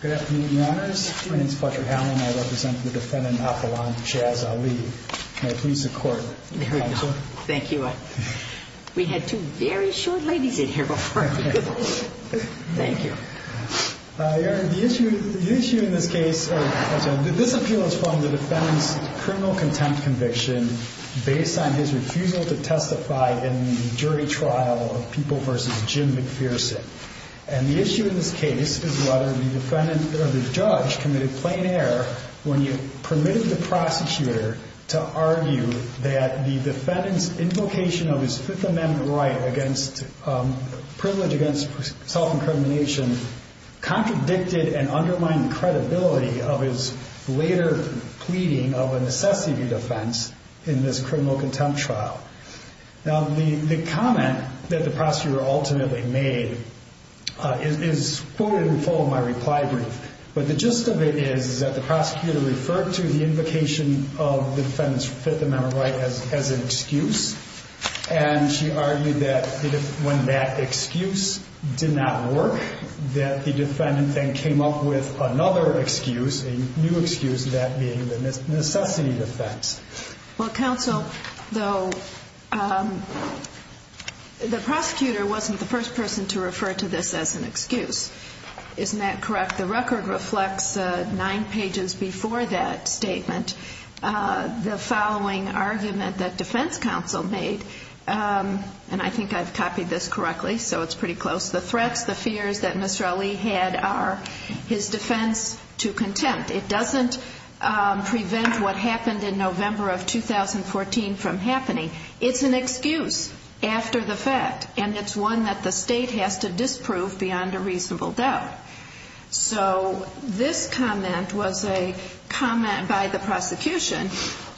Good afternoon, Your Honors. My name is Butcher Howland. I represent the defendant Apollon Jaz Ali. Can I please have court counsel? Thank you. We had two very short ladies in here before. Thank you. Your Honor, the issue in this case, this appeal is from the defendant's criminal contempt conviction based on his refusal to testify in the jury trial of People v. Jim McPherson. And the issue in this case is whether the defendant or the judge committed plain error when you permitted the prosecutor to argue that the defendant's invocation of his Fifth Amendment right against privilege against self-incrimination contradicted and undermined the credibility of his later pleading of a necessity defense in this criminal contempt trial. Now the comment that the prosecutor ultimately made is quoted in full in my reply brief. But the gist of it is that the prosecutor referred to the invocation of the defendant's Fifth Amendment right as an excuse, and she argued that when that excuse did not work, that the defendant then came up with another excuse, a new excuse, that being the necessity defense. Well, counsel, though, the prosecutor wasn't the first person to refer to this as an excuse. Isn't that correct? The record reflects nine pages before that statement, the following argument that defense counsel made, and I think I've copied this correctly, so it's pretty close, the threats, the fears that Mr. Ali had are his defense to contempt. It doesn't prevent what happened in November of 2014 from happening. It's an excuse after the fact, and it's one that the state has to disprove beyond a reasonable doubt. So this comment was a comment by the prosecution,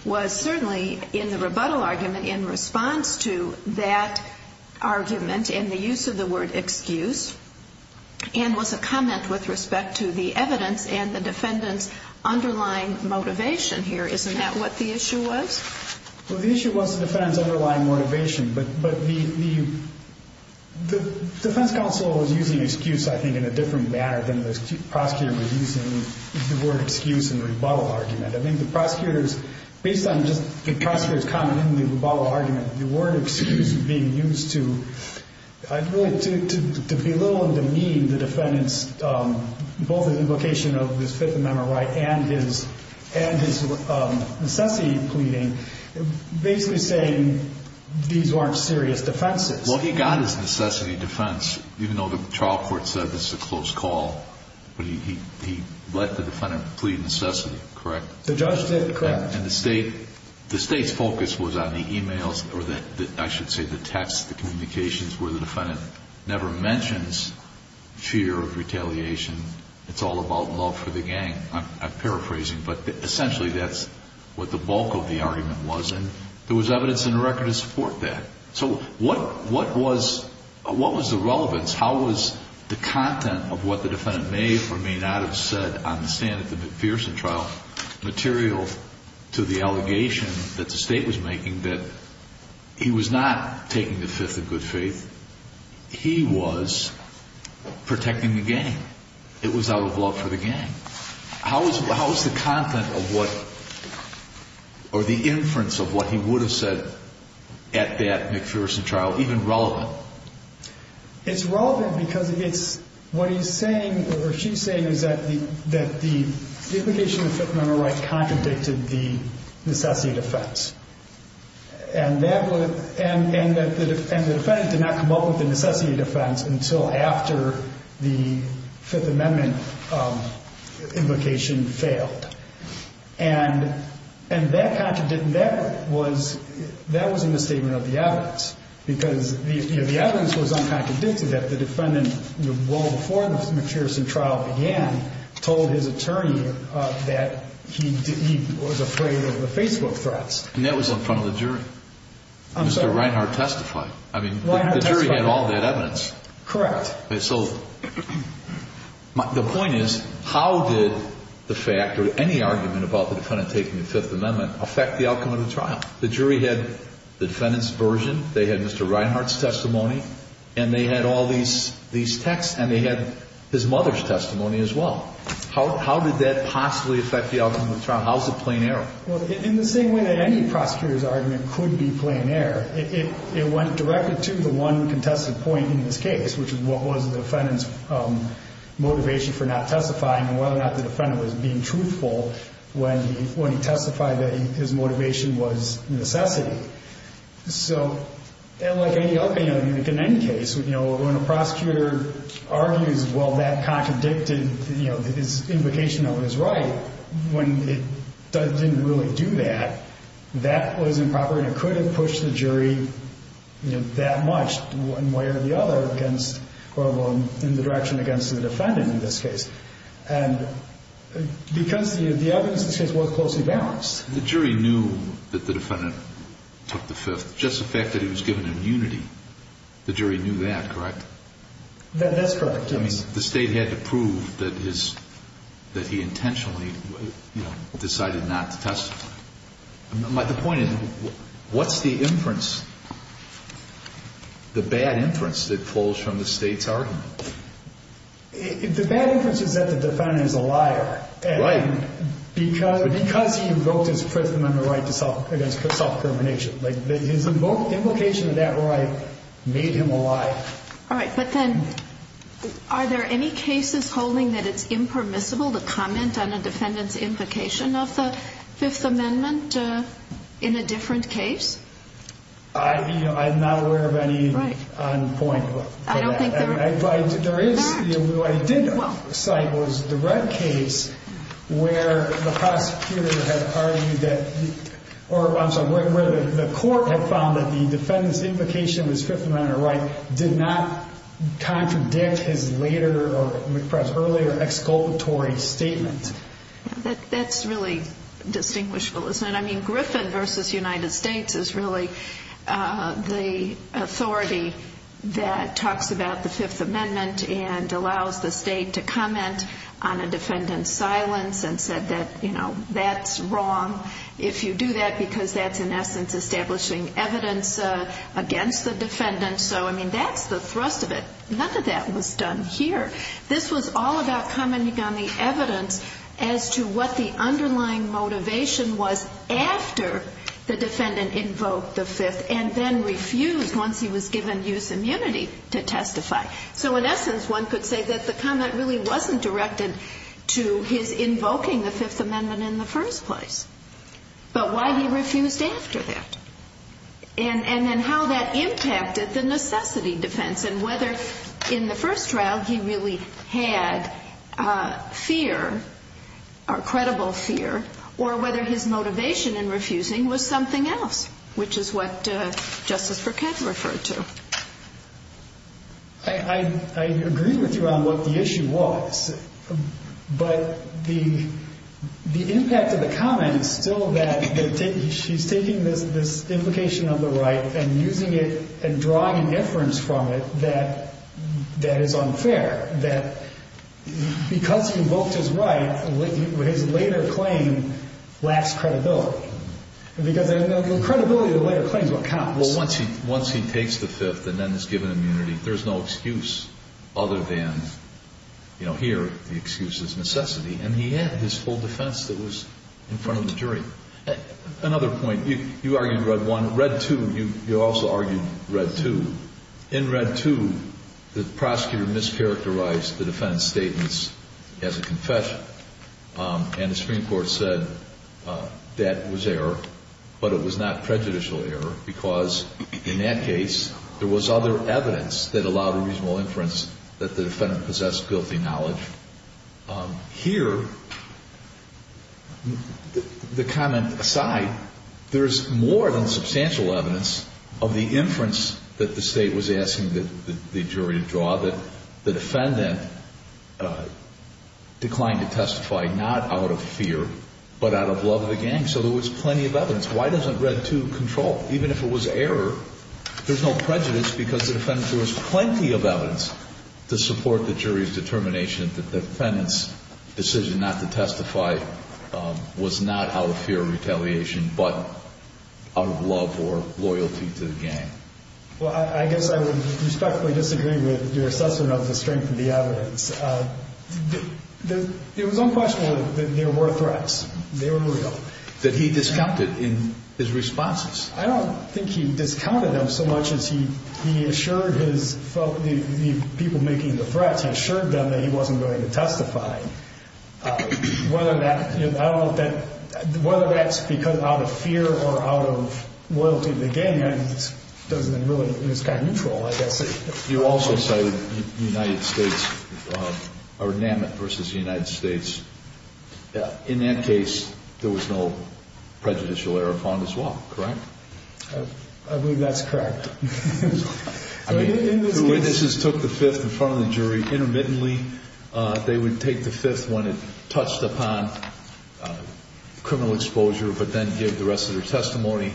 was certainly in the rebuttal argument in response to that argument and the use of the word excuse, and was a comment with respect to the evidence and the defendant's underlying motivation here. Isn't that what the issue was? Well, the issue was the defendant's The defense counsel was using excuse, I think, in a different manner than the prosecutor was using the word excuse in the rebuttal argument. I think the prosecutors, based on just the prosecutor's comment in the rebuttal argument, the word excuse being used to belittle and demean the defendant's, both his implication of his Fifth Amendment right and his necessity pleading, basically saying these weren't serious defenses. Well, he got his necessity defense, even though the trial court said this is a close call, but he let the defendant plead necessity, correct? The judge did, correct. And the state's focus was on the emails, or I should say the texts, the communications, where the defendant never mentions fear of retaliation. It's all about love for the gang. I'm paraphrasing, but essentially that's what the bulk of the argument was. And there was evidence in the record to support that. So what was the relevance? How was the content of what the defendant may or may not have said on the stand at the McPherson trial material to the allegation that the state was making that he was not taking the fifth of good faith, he was protecting the gang. It was out of love for the gang. How was the content of what or the inference of what he would have said at that McPherson trial even relevant? It's relevant because it's, what he's saying or she's saying is that the, that the implication of Fifth Amendment right contradicted the necessity defense. And that would, and that the defendant did not come up with the necessity defense until after the Fifth Amendment implication failed. And that contradicted, that was, that was a misstatement of the evidence because the evidence was uncontradicted that the defendant well before the McPherson trial began told his attorney that he was afraid of the Facebook threats. And that was in front of the jury. Mr. Reinhart testified. I mean, the jury had all that evidence. Correct. So the point is, how did the fact or any argument about the defendant taking the Fifth Amendment affect the outcome of the trial? The jury had the defendant's version. They had Mr. Reinhart's testimony and they had all these, these texts and they had his mother's testimony as well. How, how did that possibly affect the outcome of the trial? How is it plain error? Well, in the same way that any prosecutor's argument could be plain error, it, it, it went directly to the one contested point in this case, which is what was the defendant's motivation for not testifying and whether or not the defendant was being truthful when he, when he testified that his motivation was necessity. So like any other, like in any case, you know, when a prosecutor argues, well, that contradicted, you know, his implication of his right when it didn't really do that, that was improper and it could have pushed the jury, you know, that much one way or the other against, or in the direction against the defendant in this case. And because the, the evidence in this case was closely balanced. The jury knew that the defendant took the Fifth, just the fact that he was given immunity. The jury knew that, correct? That's correct. I mean, the state had to prove that his, that he intentionally decided not to testify. The point is, what's the inference, the bad inference that pulls from the state's argument? The bad inference is that the defendant is a liar. Right. Because, because he invoked his Fifth Amendment right to self, against self-determination, like his invocation of that right made him a liar. All right. But then are there any cases holding that it's impermissible to comment on a defendant's invocation of the Fifth Amendment in a different case? I, you know, I'm not aware of any on point. Right. I don't think there is. There is, what I did cite was the red case where the prosecutor had argued that, or I'm sorry, where the court had found that the defendant's invocation was Fifth Amendment right did not contradict his later or McPress earlier exculpatory statement. That's really distinguishable, isn't it? I mean, Griffin versus United States is really the authority that talks about the Fifth Amendment and allows the state to comment on a defendant's silence and said that, you know, that's wrong if you do that, because that's in essence, establishing evidence against the defendant. So, I mean, that's the thrust of it. None of that was done here. This was all about commenting on the evidence as to what the underlying motivation was after the defendant invoked the Fifth and then refused once he was given use immunity to testify. So in essence, one could say that the comment really wasn't directed to his invoking the Fifth Amendment in the first place, but why he refused after that. And then how that impacted the necessity defense and whether in the first trial he really had fear or credible fear or whether his motivation in refusing was something else, which is what Justice Burkett referred to. I agree with you on what the issue was, but the impact of the comment is still that she's taking this implication of the right and using it and drawing inference from it that that is unfair, that because he invoked his right, his later claim lacks credibility, because the credibility of the later claim is what counts. Well, once he takes the Fifth and then is given immunity, there's no excuse other than, you know, here the excuse is necessity. And he had his full defense that was in front of the jury. Another point. You argued Red 1. Red 2, you also argued Red 2. In Red 2, the prosecutor mischaracterized the defendant's statements as a confession. And the Supreme Court said that was error, but it was not prejudicial error because in that case, there was other evidence that allowed a reasonable inference that the defendant possessed guilty knowledge. Here, the comment aside, there's more than substantial evidence of the inference that the State was asking the jury to draw that the defendant declined to testify, not out of fear, but out of love of the gang. So there was plenty of evidence. Why doesn't Red 2 control? Even if it was error, there's no prejudice because the defendant shows plenty of evidence to support the jury's determination that the defendant's decision not to testify was not out of fear of retaliation, but out of love or loyalty to the gang. Well, I guess I would respectfully disagree with your assessment of the strength of the evidence. It was unquestionable that there were threats. They were real. That he discounted in his responses. I don't think he discounted them so much as he assured the people making the threats, he assured them that he wasn't going to testify. Whether that's out of fear or out of loyalty to the gang, it was kind of neutral, I guess. You also cited the United States or Namit versus the United States. In that case, there was no prejudicial error found as well, correct? I believe that's correct. I mean, the witnesses took the fifth in front of the jury intermittently. They would take the fifth when it touched upon criminal exposure, but then give the rest of their testimony.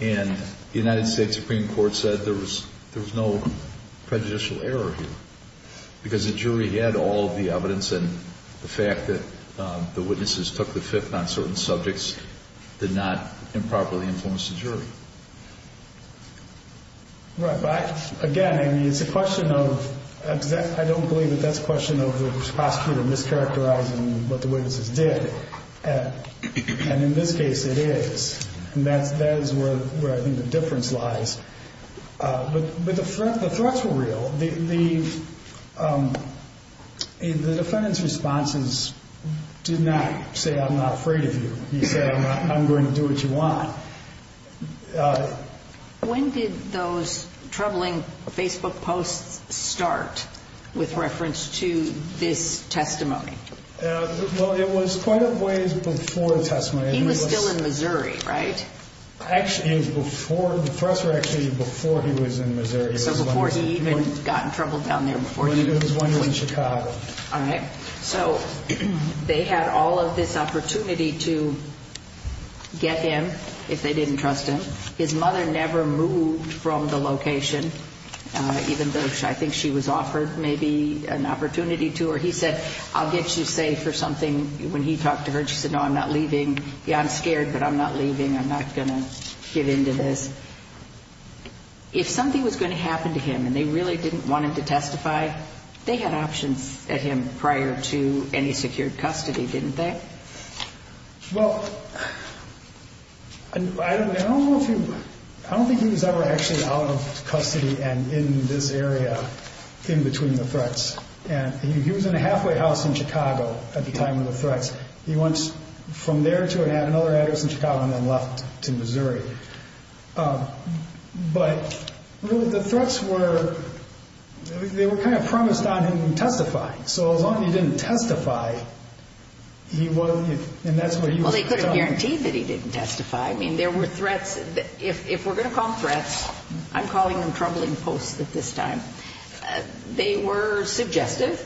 And the United States Supreme Court said there was no prejudicial error here because the jury had all the evidence. And the fact that the witnesses took the fifth on certain subjects did not improperly influence the jury. Right. But again, I mean, it's a question of, I don't believe that that's a question of the prosecutor mischaracterizing what the witnesses did. And in this case, it is. And that is where I think the difference lies. But the threats were real. The defendant's responses did not say, I'm not afraid of you. He said, I'm going to do what you want. When did those troubling Facebook posts start with reference to this testimony? Well, it was quite a ways before the testimony. He was still in Missouri, right? Actually, it was before. The threats were actually before he was in Missouri. So before he even got in trouble down there before he was in Chicago. All right. So they had all of this opportunity to get him if they didn't trust him. His mother never moved from the location, even though I think she was offered maybe an opportunity to. Or he said, I'll get you safe or something. When he talked to her, she said, no, I'm not leaving. Yeah, I'm scared, but I'm not leaving. I'm not going to get into this. If something was going to happen to him and they really didn't want him to testify, they had options at him prior to any secured custody, didn't they? Well, I don't think he was ever actually out of custody and in this area in between the threats. And he was in a halfway house in Chicago at the time of the threats. He went from there to another address in Chicago and then left to Missouri. But the threats were, they were kind of promised on him testifying. So as long as he didn't testify, he wasn't, and that's what he was. Well, they couldn't guarantee that he didn't testify. I mean, there were threats. If we're going to call them threats, I'm calling them troubling posts at this time. They were suggestive,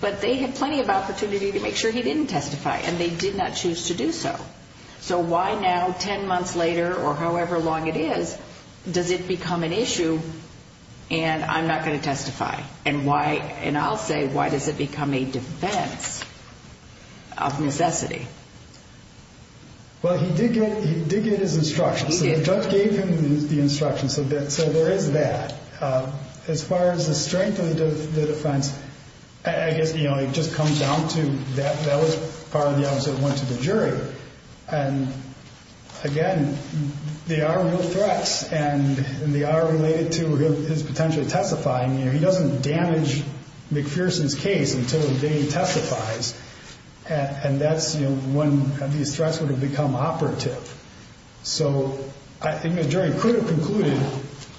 but they had plenty of opportunity to make sure he didn't testify. And they did not choose to do so. So why now, 10 months later or however long it is, does it become an issue and I'm not going to testify? And why, and I'll say, why does it become a defense of necessity? Well, he did get his instructions. So the judge gave him the instructions. So there is that. As far as the strength of the defense, I guess, you know, it just comes down to that. That was part of the opposite of what went to the jury. And again, they are real threats and they are related to his potential testifying. You know, he doesn't damage McPherson's case until he testifies. And that's when these threats would have become operative. So I think the jury could have concluded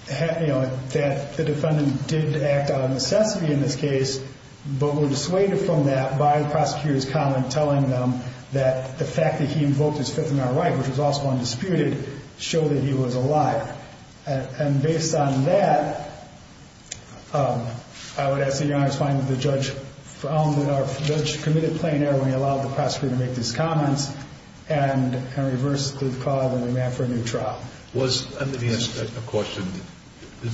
that the defendant did act out of necessity in this case, but were dissuaded from that by the prosecutor's comment, telling them that the fact that he invoked his Fifth Amendment right, which was also undisputed, showed that he was a liar. And based on that, I would ask that Your Honor find that the judge committed plain error when he allowed the prosecutor to make these comments and reverse the clause and demand for a new trial. Let me ask a question.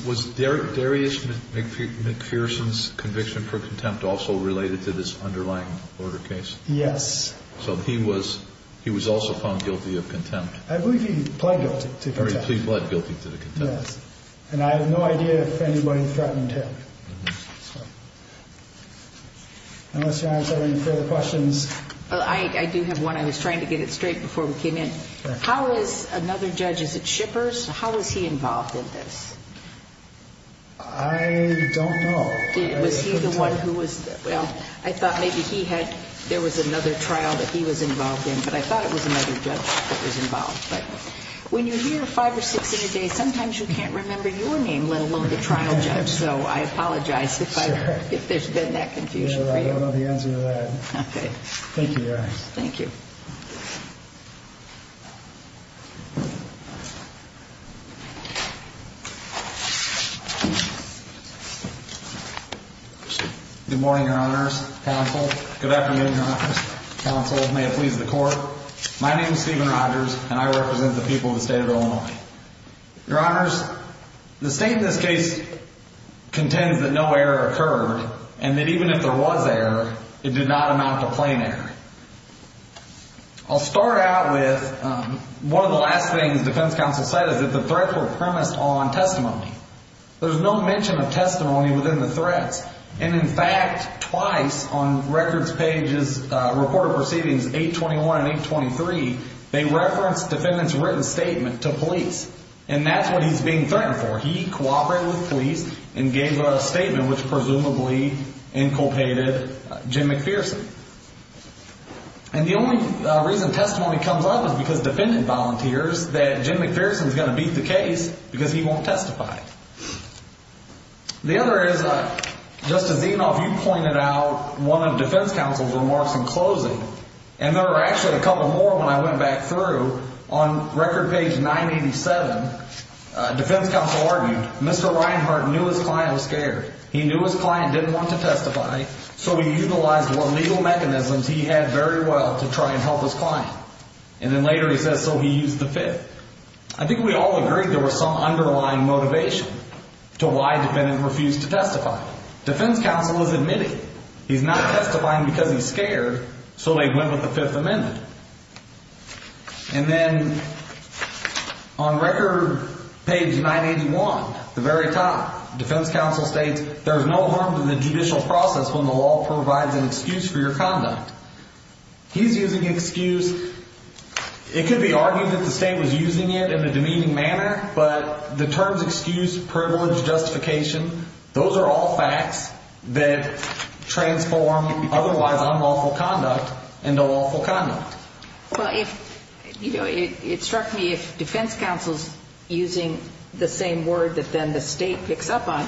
Was Darius McPherson's conviction for contempt also related to this underlying order case? Yes. So he was also found guilty of contempt? I believe he pled guilty to contempt. He pled guilty to the contempt? Yes. And I have no idea if anybody threatened him. Unless Your Honor has any further questions. Well, I do have one. I was trying to get it straight before we came in. How is another judge, is it Shippers? How was he involved in this? I don't know. Was he the one who was? Well, I thought maybe he had, there was another trial that he was involved in, but I thought it was another judge that was involved. But when you hear five or six in a day, sometimes you can't remember your name, let alone the trial judge. So I apologize if there's been that confusion for you. I don't know the answer to that. Okay. Thank you, Your Honor. Thank you. Good morning, Your Honors, Counsel. Good afternoon, Your Honors, Counsel. May it please the court. My name is Stephen Rogers and I represent the people of the state of Illinois. Your Honors, the state in this case contends that no error occurred and that even if there was error, it did not amount to plain error. I'll start out with one of the last things defense counsel said, is that the threats were premised on testimony. There's no mention of testimony within the threats. And in fact, twice on records pages, reported proceedings 821 and 823, they referenced defendant's written statement to police. And that's what he's being threatened for. He cooperated with police and gave a statement, which presumably inculpated Jim McPherson. And the only reason testimony comes up is because defendant volunteers that Jim McPherson is going to beat the case because he won't testify. The other is, just as you pointed out, one of the defense counsel's remarks in closing, and there were actually a couple more when I went back through, on record page 987, defense counsel argued, Mr. Reinhart knew his client was scared. He knew his client didn't want to testify. So he utilized what legal mechanisms he had very well to try and help his client. And then later he says, so he used the fifth. I think we all agreed there was some underlying motivation to why defendant refused to testify. Defense counsel is admitting he's not testifying because he's scared. So they went with the fifth amendment. And then on record page 981, the very top defense counsel states, there's no harm to the judicial process when the law provides an excuse for your conduct. He's using excuse. It could be argued that the state was using it in a demeaning manner, but the terms excuse, privilege, justification, those are all facts that transform otherwise unlawful conduct into lawful conduct. Well, it struck me if defense counsel's using the same word that then the state picks up on,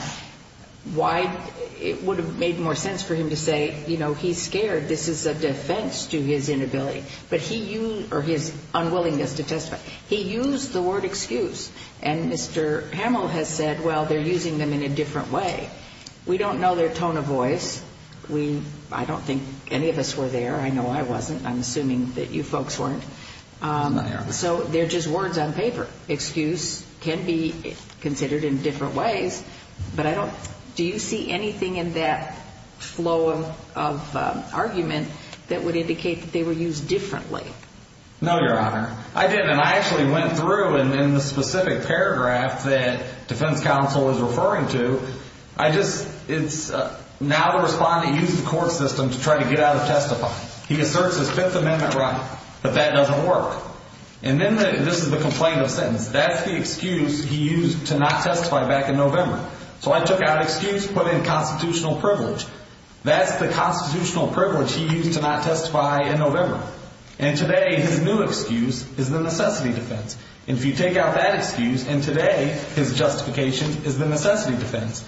why it would have made more sense for him to say, you know, he's scared. This is a defense to his inability. But he used, or his unwillingness to testify. He used the word excuse. And Mr. Hamill has said, well, they're using them in a different way. We don't know their tone of voice. We, I don't think any of us were there. I know I wasn't. I'm assuming that you folks weren't. So they're just words on paper. Excuse can be considered in different ways. But I don't, do you see anything in that flow of argument that would indicate that they were used differently? No, Your Honor. I didn't. And I actually went through in the specific paragraph that defense counsel is referring to. I just, it's now the respondent used the court system to try to get out of testifying. He asserts his Fifth Amendment right. But that doesn't work. And then this is the complaint of sentence. That's the excuse he used to not testify back in November. So I took out excuse, put in constitutional privilege. That's the constitutional privilege he used to not testify in November. And today his new excuse is the necessity defense. And if you take out that excuse, and today his justification is the necessity defense.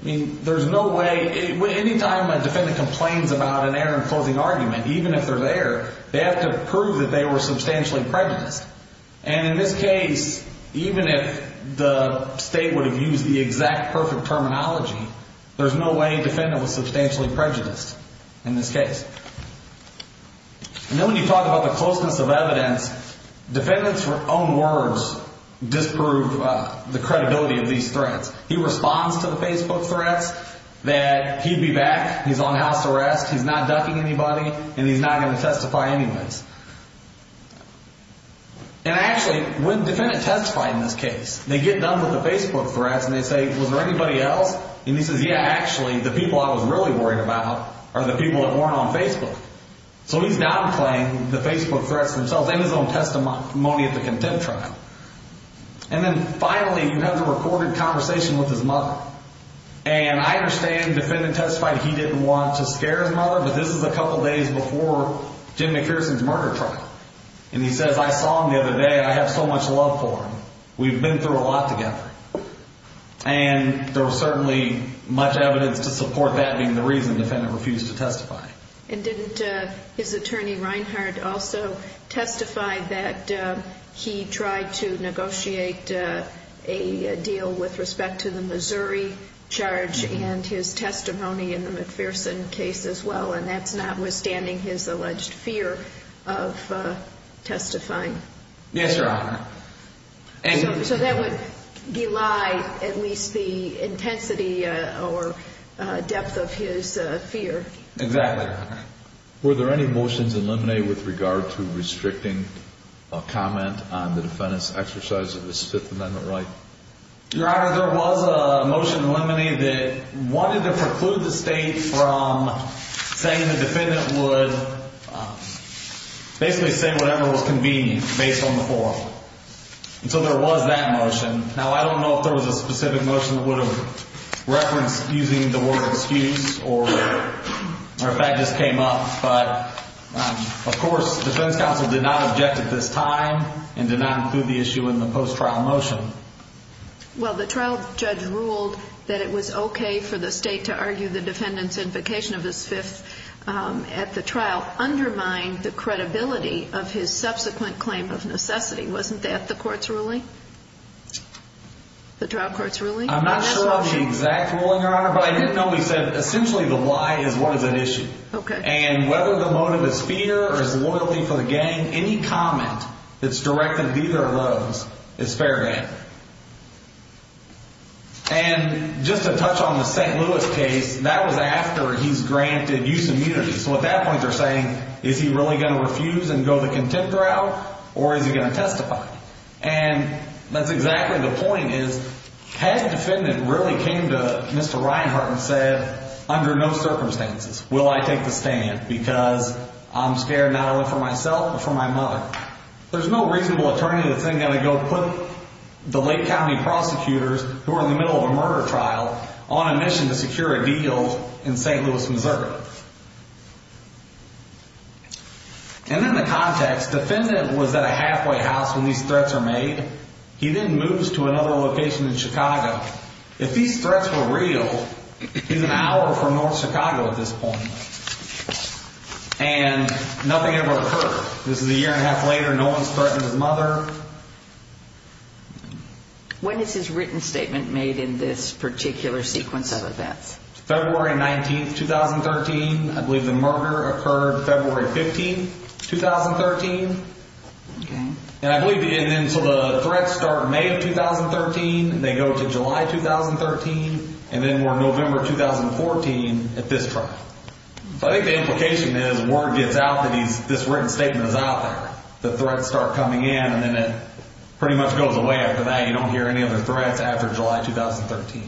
I mean, there's no way, anytime a defendant complains about an error in closing argument, even if they're there, they have to prove that they were substantially prejudiced. And in this case, even if the state would have used the exact perfect terminology, there's no way defendant was substantially prejudiced in this case. And then when you talk about the closeness of evidence, defendants own words disprove the credibility of these threats. He responds to the Facebook threats that he'd be back. He's on house arrest. He's not ducking anybody. And he's not going to testify anyways. And actually, when defendant testified in this case, they get done with the Facebook threats. And they say, was there anybody else? And he says, yeah, actually, the people I was really worried about are the people that weren't on Facebook. So he's now playing the Facebook threats themselves in his own testimony at the contempt trial. And then finally, he had a recorded conversation with his mother. And I understand defendant testified he didn't want to scare his mother. But this is a couple of days before Jim McPherson's murder trial. And he says, I saw him the other day. I have so much love for him. We've been through a lot together. And there was certainly much evidence to support that being the reason defendant refused to testify. So that would guide at least the intensity or depth of his fear. Exactly. Were there any motions eliminated with regard to restricting comment on the defendant's exercise of his Fifth Amendment right? Your Honor, there was a motion eliminated that wanted to preclude the state from saying the defendant would basically say whatever was convenient based on the form. And so there was that motion. Now, I don't know if there was a specific motion that would have referenced using the word excuse or if that just came up. But of course, the defense counsel did not object at this time and did not include the issue in the post-trial motion. Well, the trial judge ruled that it was okay for the state to argue the defendant's invocation of his Fifth at the trial undermined the credibility of his subsequent claim of necessity. Wasn't that the court's ruling? The trial court's ruling? I'm not sure of the exact ruling, Your Honor. But I did know he said essentially the lie is what is at issue. Okay. And whether the motive is fear or is loyalty for the gang, any comment that's directed to either of those is fair game. And just to touch on the St. Louis case, that was after he's granted use immunity. So at that point, they're saying, is he really going to refuse and go the contempt route? Or is he going to testify? And that's exactly the point is, has the defendant really came to Mr. Reinhart and said, under no circumstances will I take the stand? Because I'm scared not only for myself, but for my mother. There's no reasonable attorney that's then going to go put the Lake County prosecutors, who are in the middle of a murder trial, on a mission to secure a deal in St. Louis, Missouri. And then the context, defendant was at a halfway house when these threats are made. He then moves to another location in Chicago. If these threats were real, he's an hour from North Chicago at this point. And nothing ever occurred. This is a year and a half later. No one's threatening his mother. When is his written statement made in this particular sequence of events? February 19th, 2013. I believe the murder occurred February 15th, 2013. Okay. And I believe, and then so the threats start May of 2013. They go to July 2013. And then we're November 2014 at this time. So I think the implication is, word gets out that he's, this written statement is out there. The threats start coming in and then it pretty much goes away after that. You don't hear any other threats after July 2013.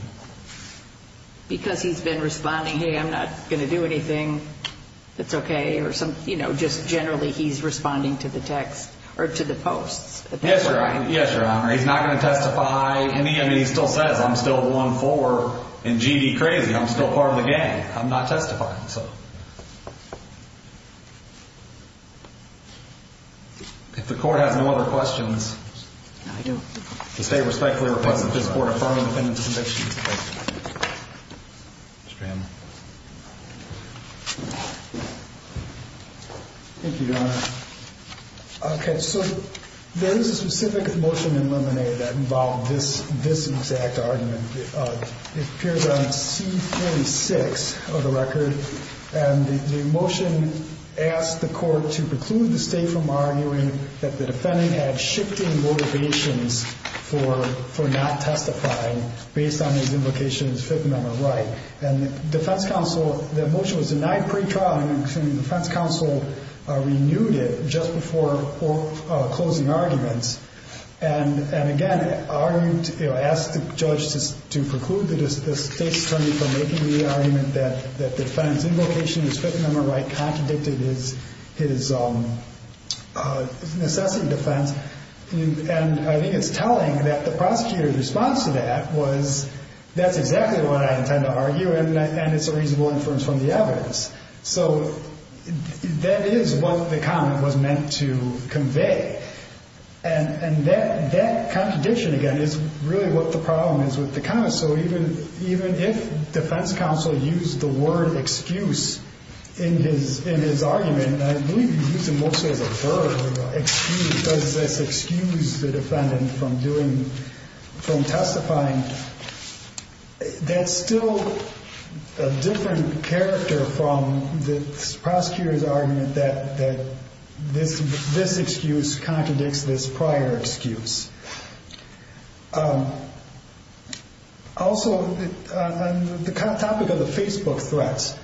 Because he's been responding, hey, I'm not going to do anything. That's okay. Or some, you know, just generally he's responding to the text, or to the posts. Yes, Your Honor. He's not going to testify any. I mean, he still says, I'm still going forward and GD crazy. I'm still part of the gang. I'm not testifying, so. If the court has no other questions. No, I don't. The state respectfully requests that this court affirm the defendant's conviction. Thank you, Your Honor. Okay, so there is a specific motion in Lemonade that involved this exact argument. It appears on C-46 of the record. And the motion asked the court to preclude the state from arguing that the defendant had shifting motivations for not testifying based on his invocation as Fifth Amendment right. And the defense counsel, that motion was denied pre-trial. The defense counsel renewed it just before closing arguments. And again, argued, asked the judge to preclude the state's attorney from making the argument that the defendant's invocation as Fifth Amendment right contradicted his necessity defense. And I think it's telling that the prosecutor's response to that was, that's exactly what I intend to argue. And it's a reasonable inference from the evidence. So that is what the comment was meant to convey. And that contradiction, again, is really what the problem is with the comment. So even if defense counsel used the word excuse in his argument, and I believe he used it mostly as a verb, excuse, does this excuse the defendant from doing, from testifying, that's still a different character from the prosecutor's argument that this excuse contradicts this prior excuse. Also, on the topic of the Facebook threats,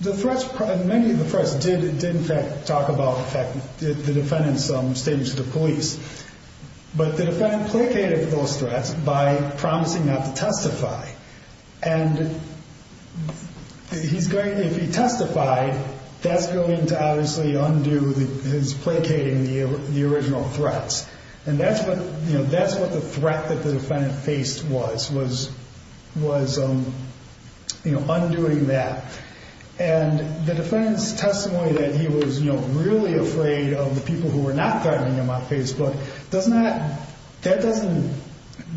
the threats, many of the threats did in fact talk about, in fact, the defendant's statement to the police. But the defendant placated those threats by promising not to testify. And if he testified, that's going to obviously undo his placating the original threats. And that's what the threat that the defendant faced was, was undoing that. And the defendant's testimony that he was really afraid of the people who were not threatening him on Facebook, that doesn't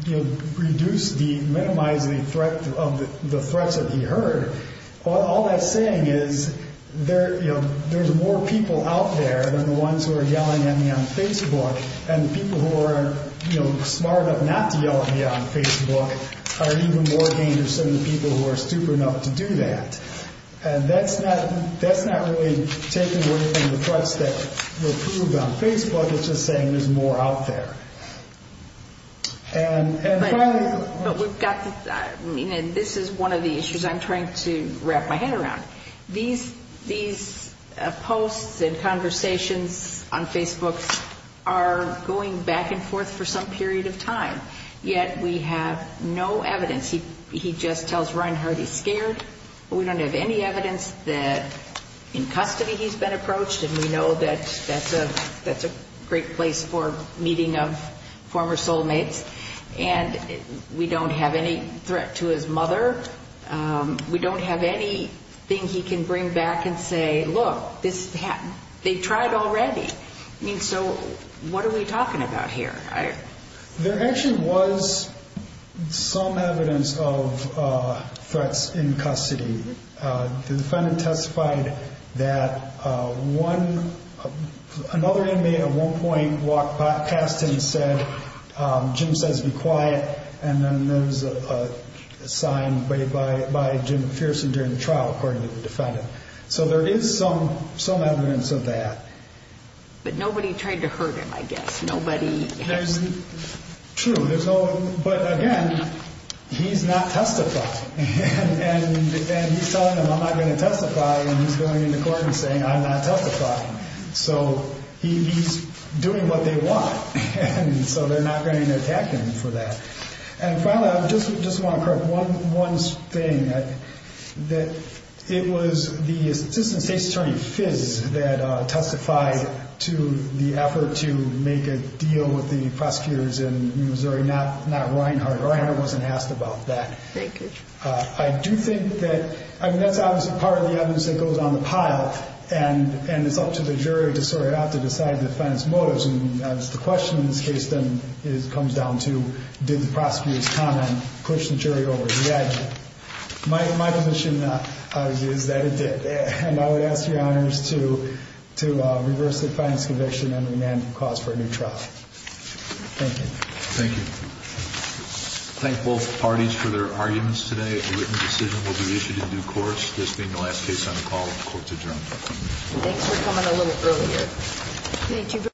reduce the, minimize the threat of the threats that he heard. All that's saying is there's more people out there than the ones who are yelling at me on Facebook. And the people who are smart enough not to yell at me on Facebook are even more dangerous than the people who are stupid enough to do that. And that's not, that's not really taking away from the threats that were proved on Facebook. It's just saying there's more out there. And, and finally. But we've got, I mean, and this is one of the issues I'm trying to wrap my head around. These, these posts and conversations on Facebook are going back and forth for some period of time. Yet we have no evidence. He, he just tells Reinhardt he's scared. We don't have any evidence that in custody he's been approached. And we know that that's a, that's a great place for meeting of former soulmates. And we don't have any threat to his mother. We don't have anything he can bring back and say, look, this, they tried already. I mean, so what are we talking about here? There actually was some evidence of threats in custody. The defendant testified that one, another inmate at one point walked past him and said, Jim says be quiet. And then there's a sign by, by Jim Pearson during the trial, according to the defendant. So there is some, some evidence of that. But nobody tried to hurt him, I guess. Nobody. There's, true, there's no, but again, he's not testified. And, and he's telling them I'm not going to testify. And he's going into court and saying, I'm not testifying. So he, he's doing what they want. And so they're not going to attack him for that. And finally, I just, just want to correct one, one thing that, that it was the assistant attorney FIS that testified to the effort to make a deal with the prosecutors in Missouri, not, not Reinhart. Reinhart wasn't asked about that. I do think that, I mean, that's obviously part of the evidence that goes on the pile and, and it's up to the jury to sort it out, to decide the defendant's motives. And that's the question in this case then is, comes down to, did the prosecutor's comment push the jury over the edge? My, my position is that it did. And I would ask your honors to, to reverse the defendant's conviction and remand the cause for a new trial. Thank you. Thank you. Thank both parties for their arguments today. A written decision will be issued in due course. This being the last case on the call, the court's adjourned. Thanks for coming a little earlier.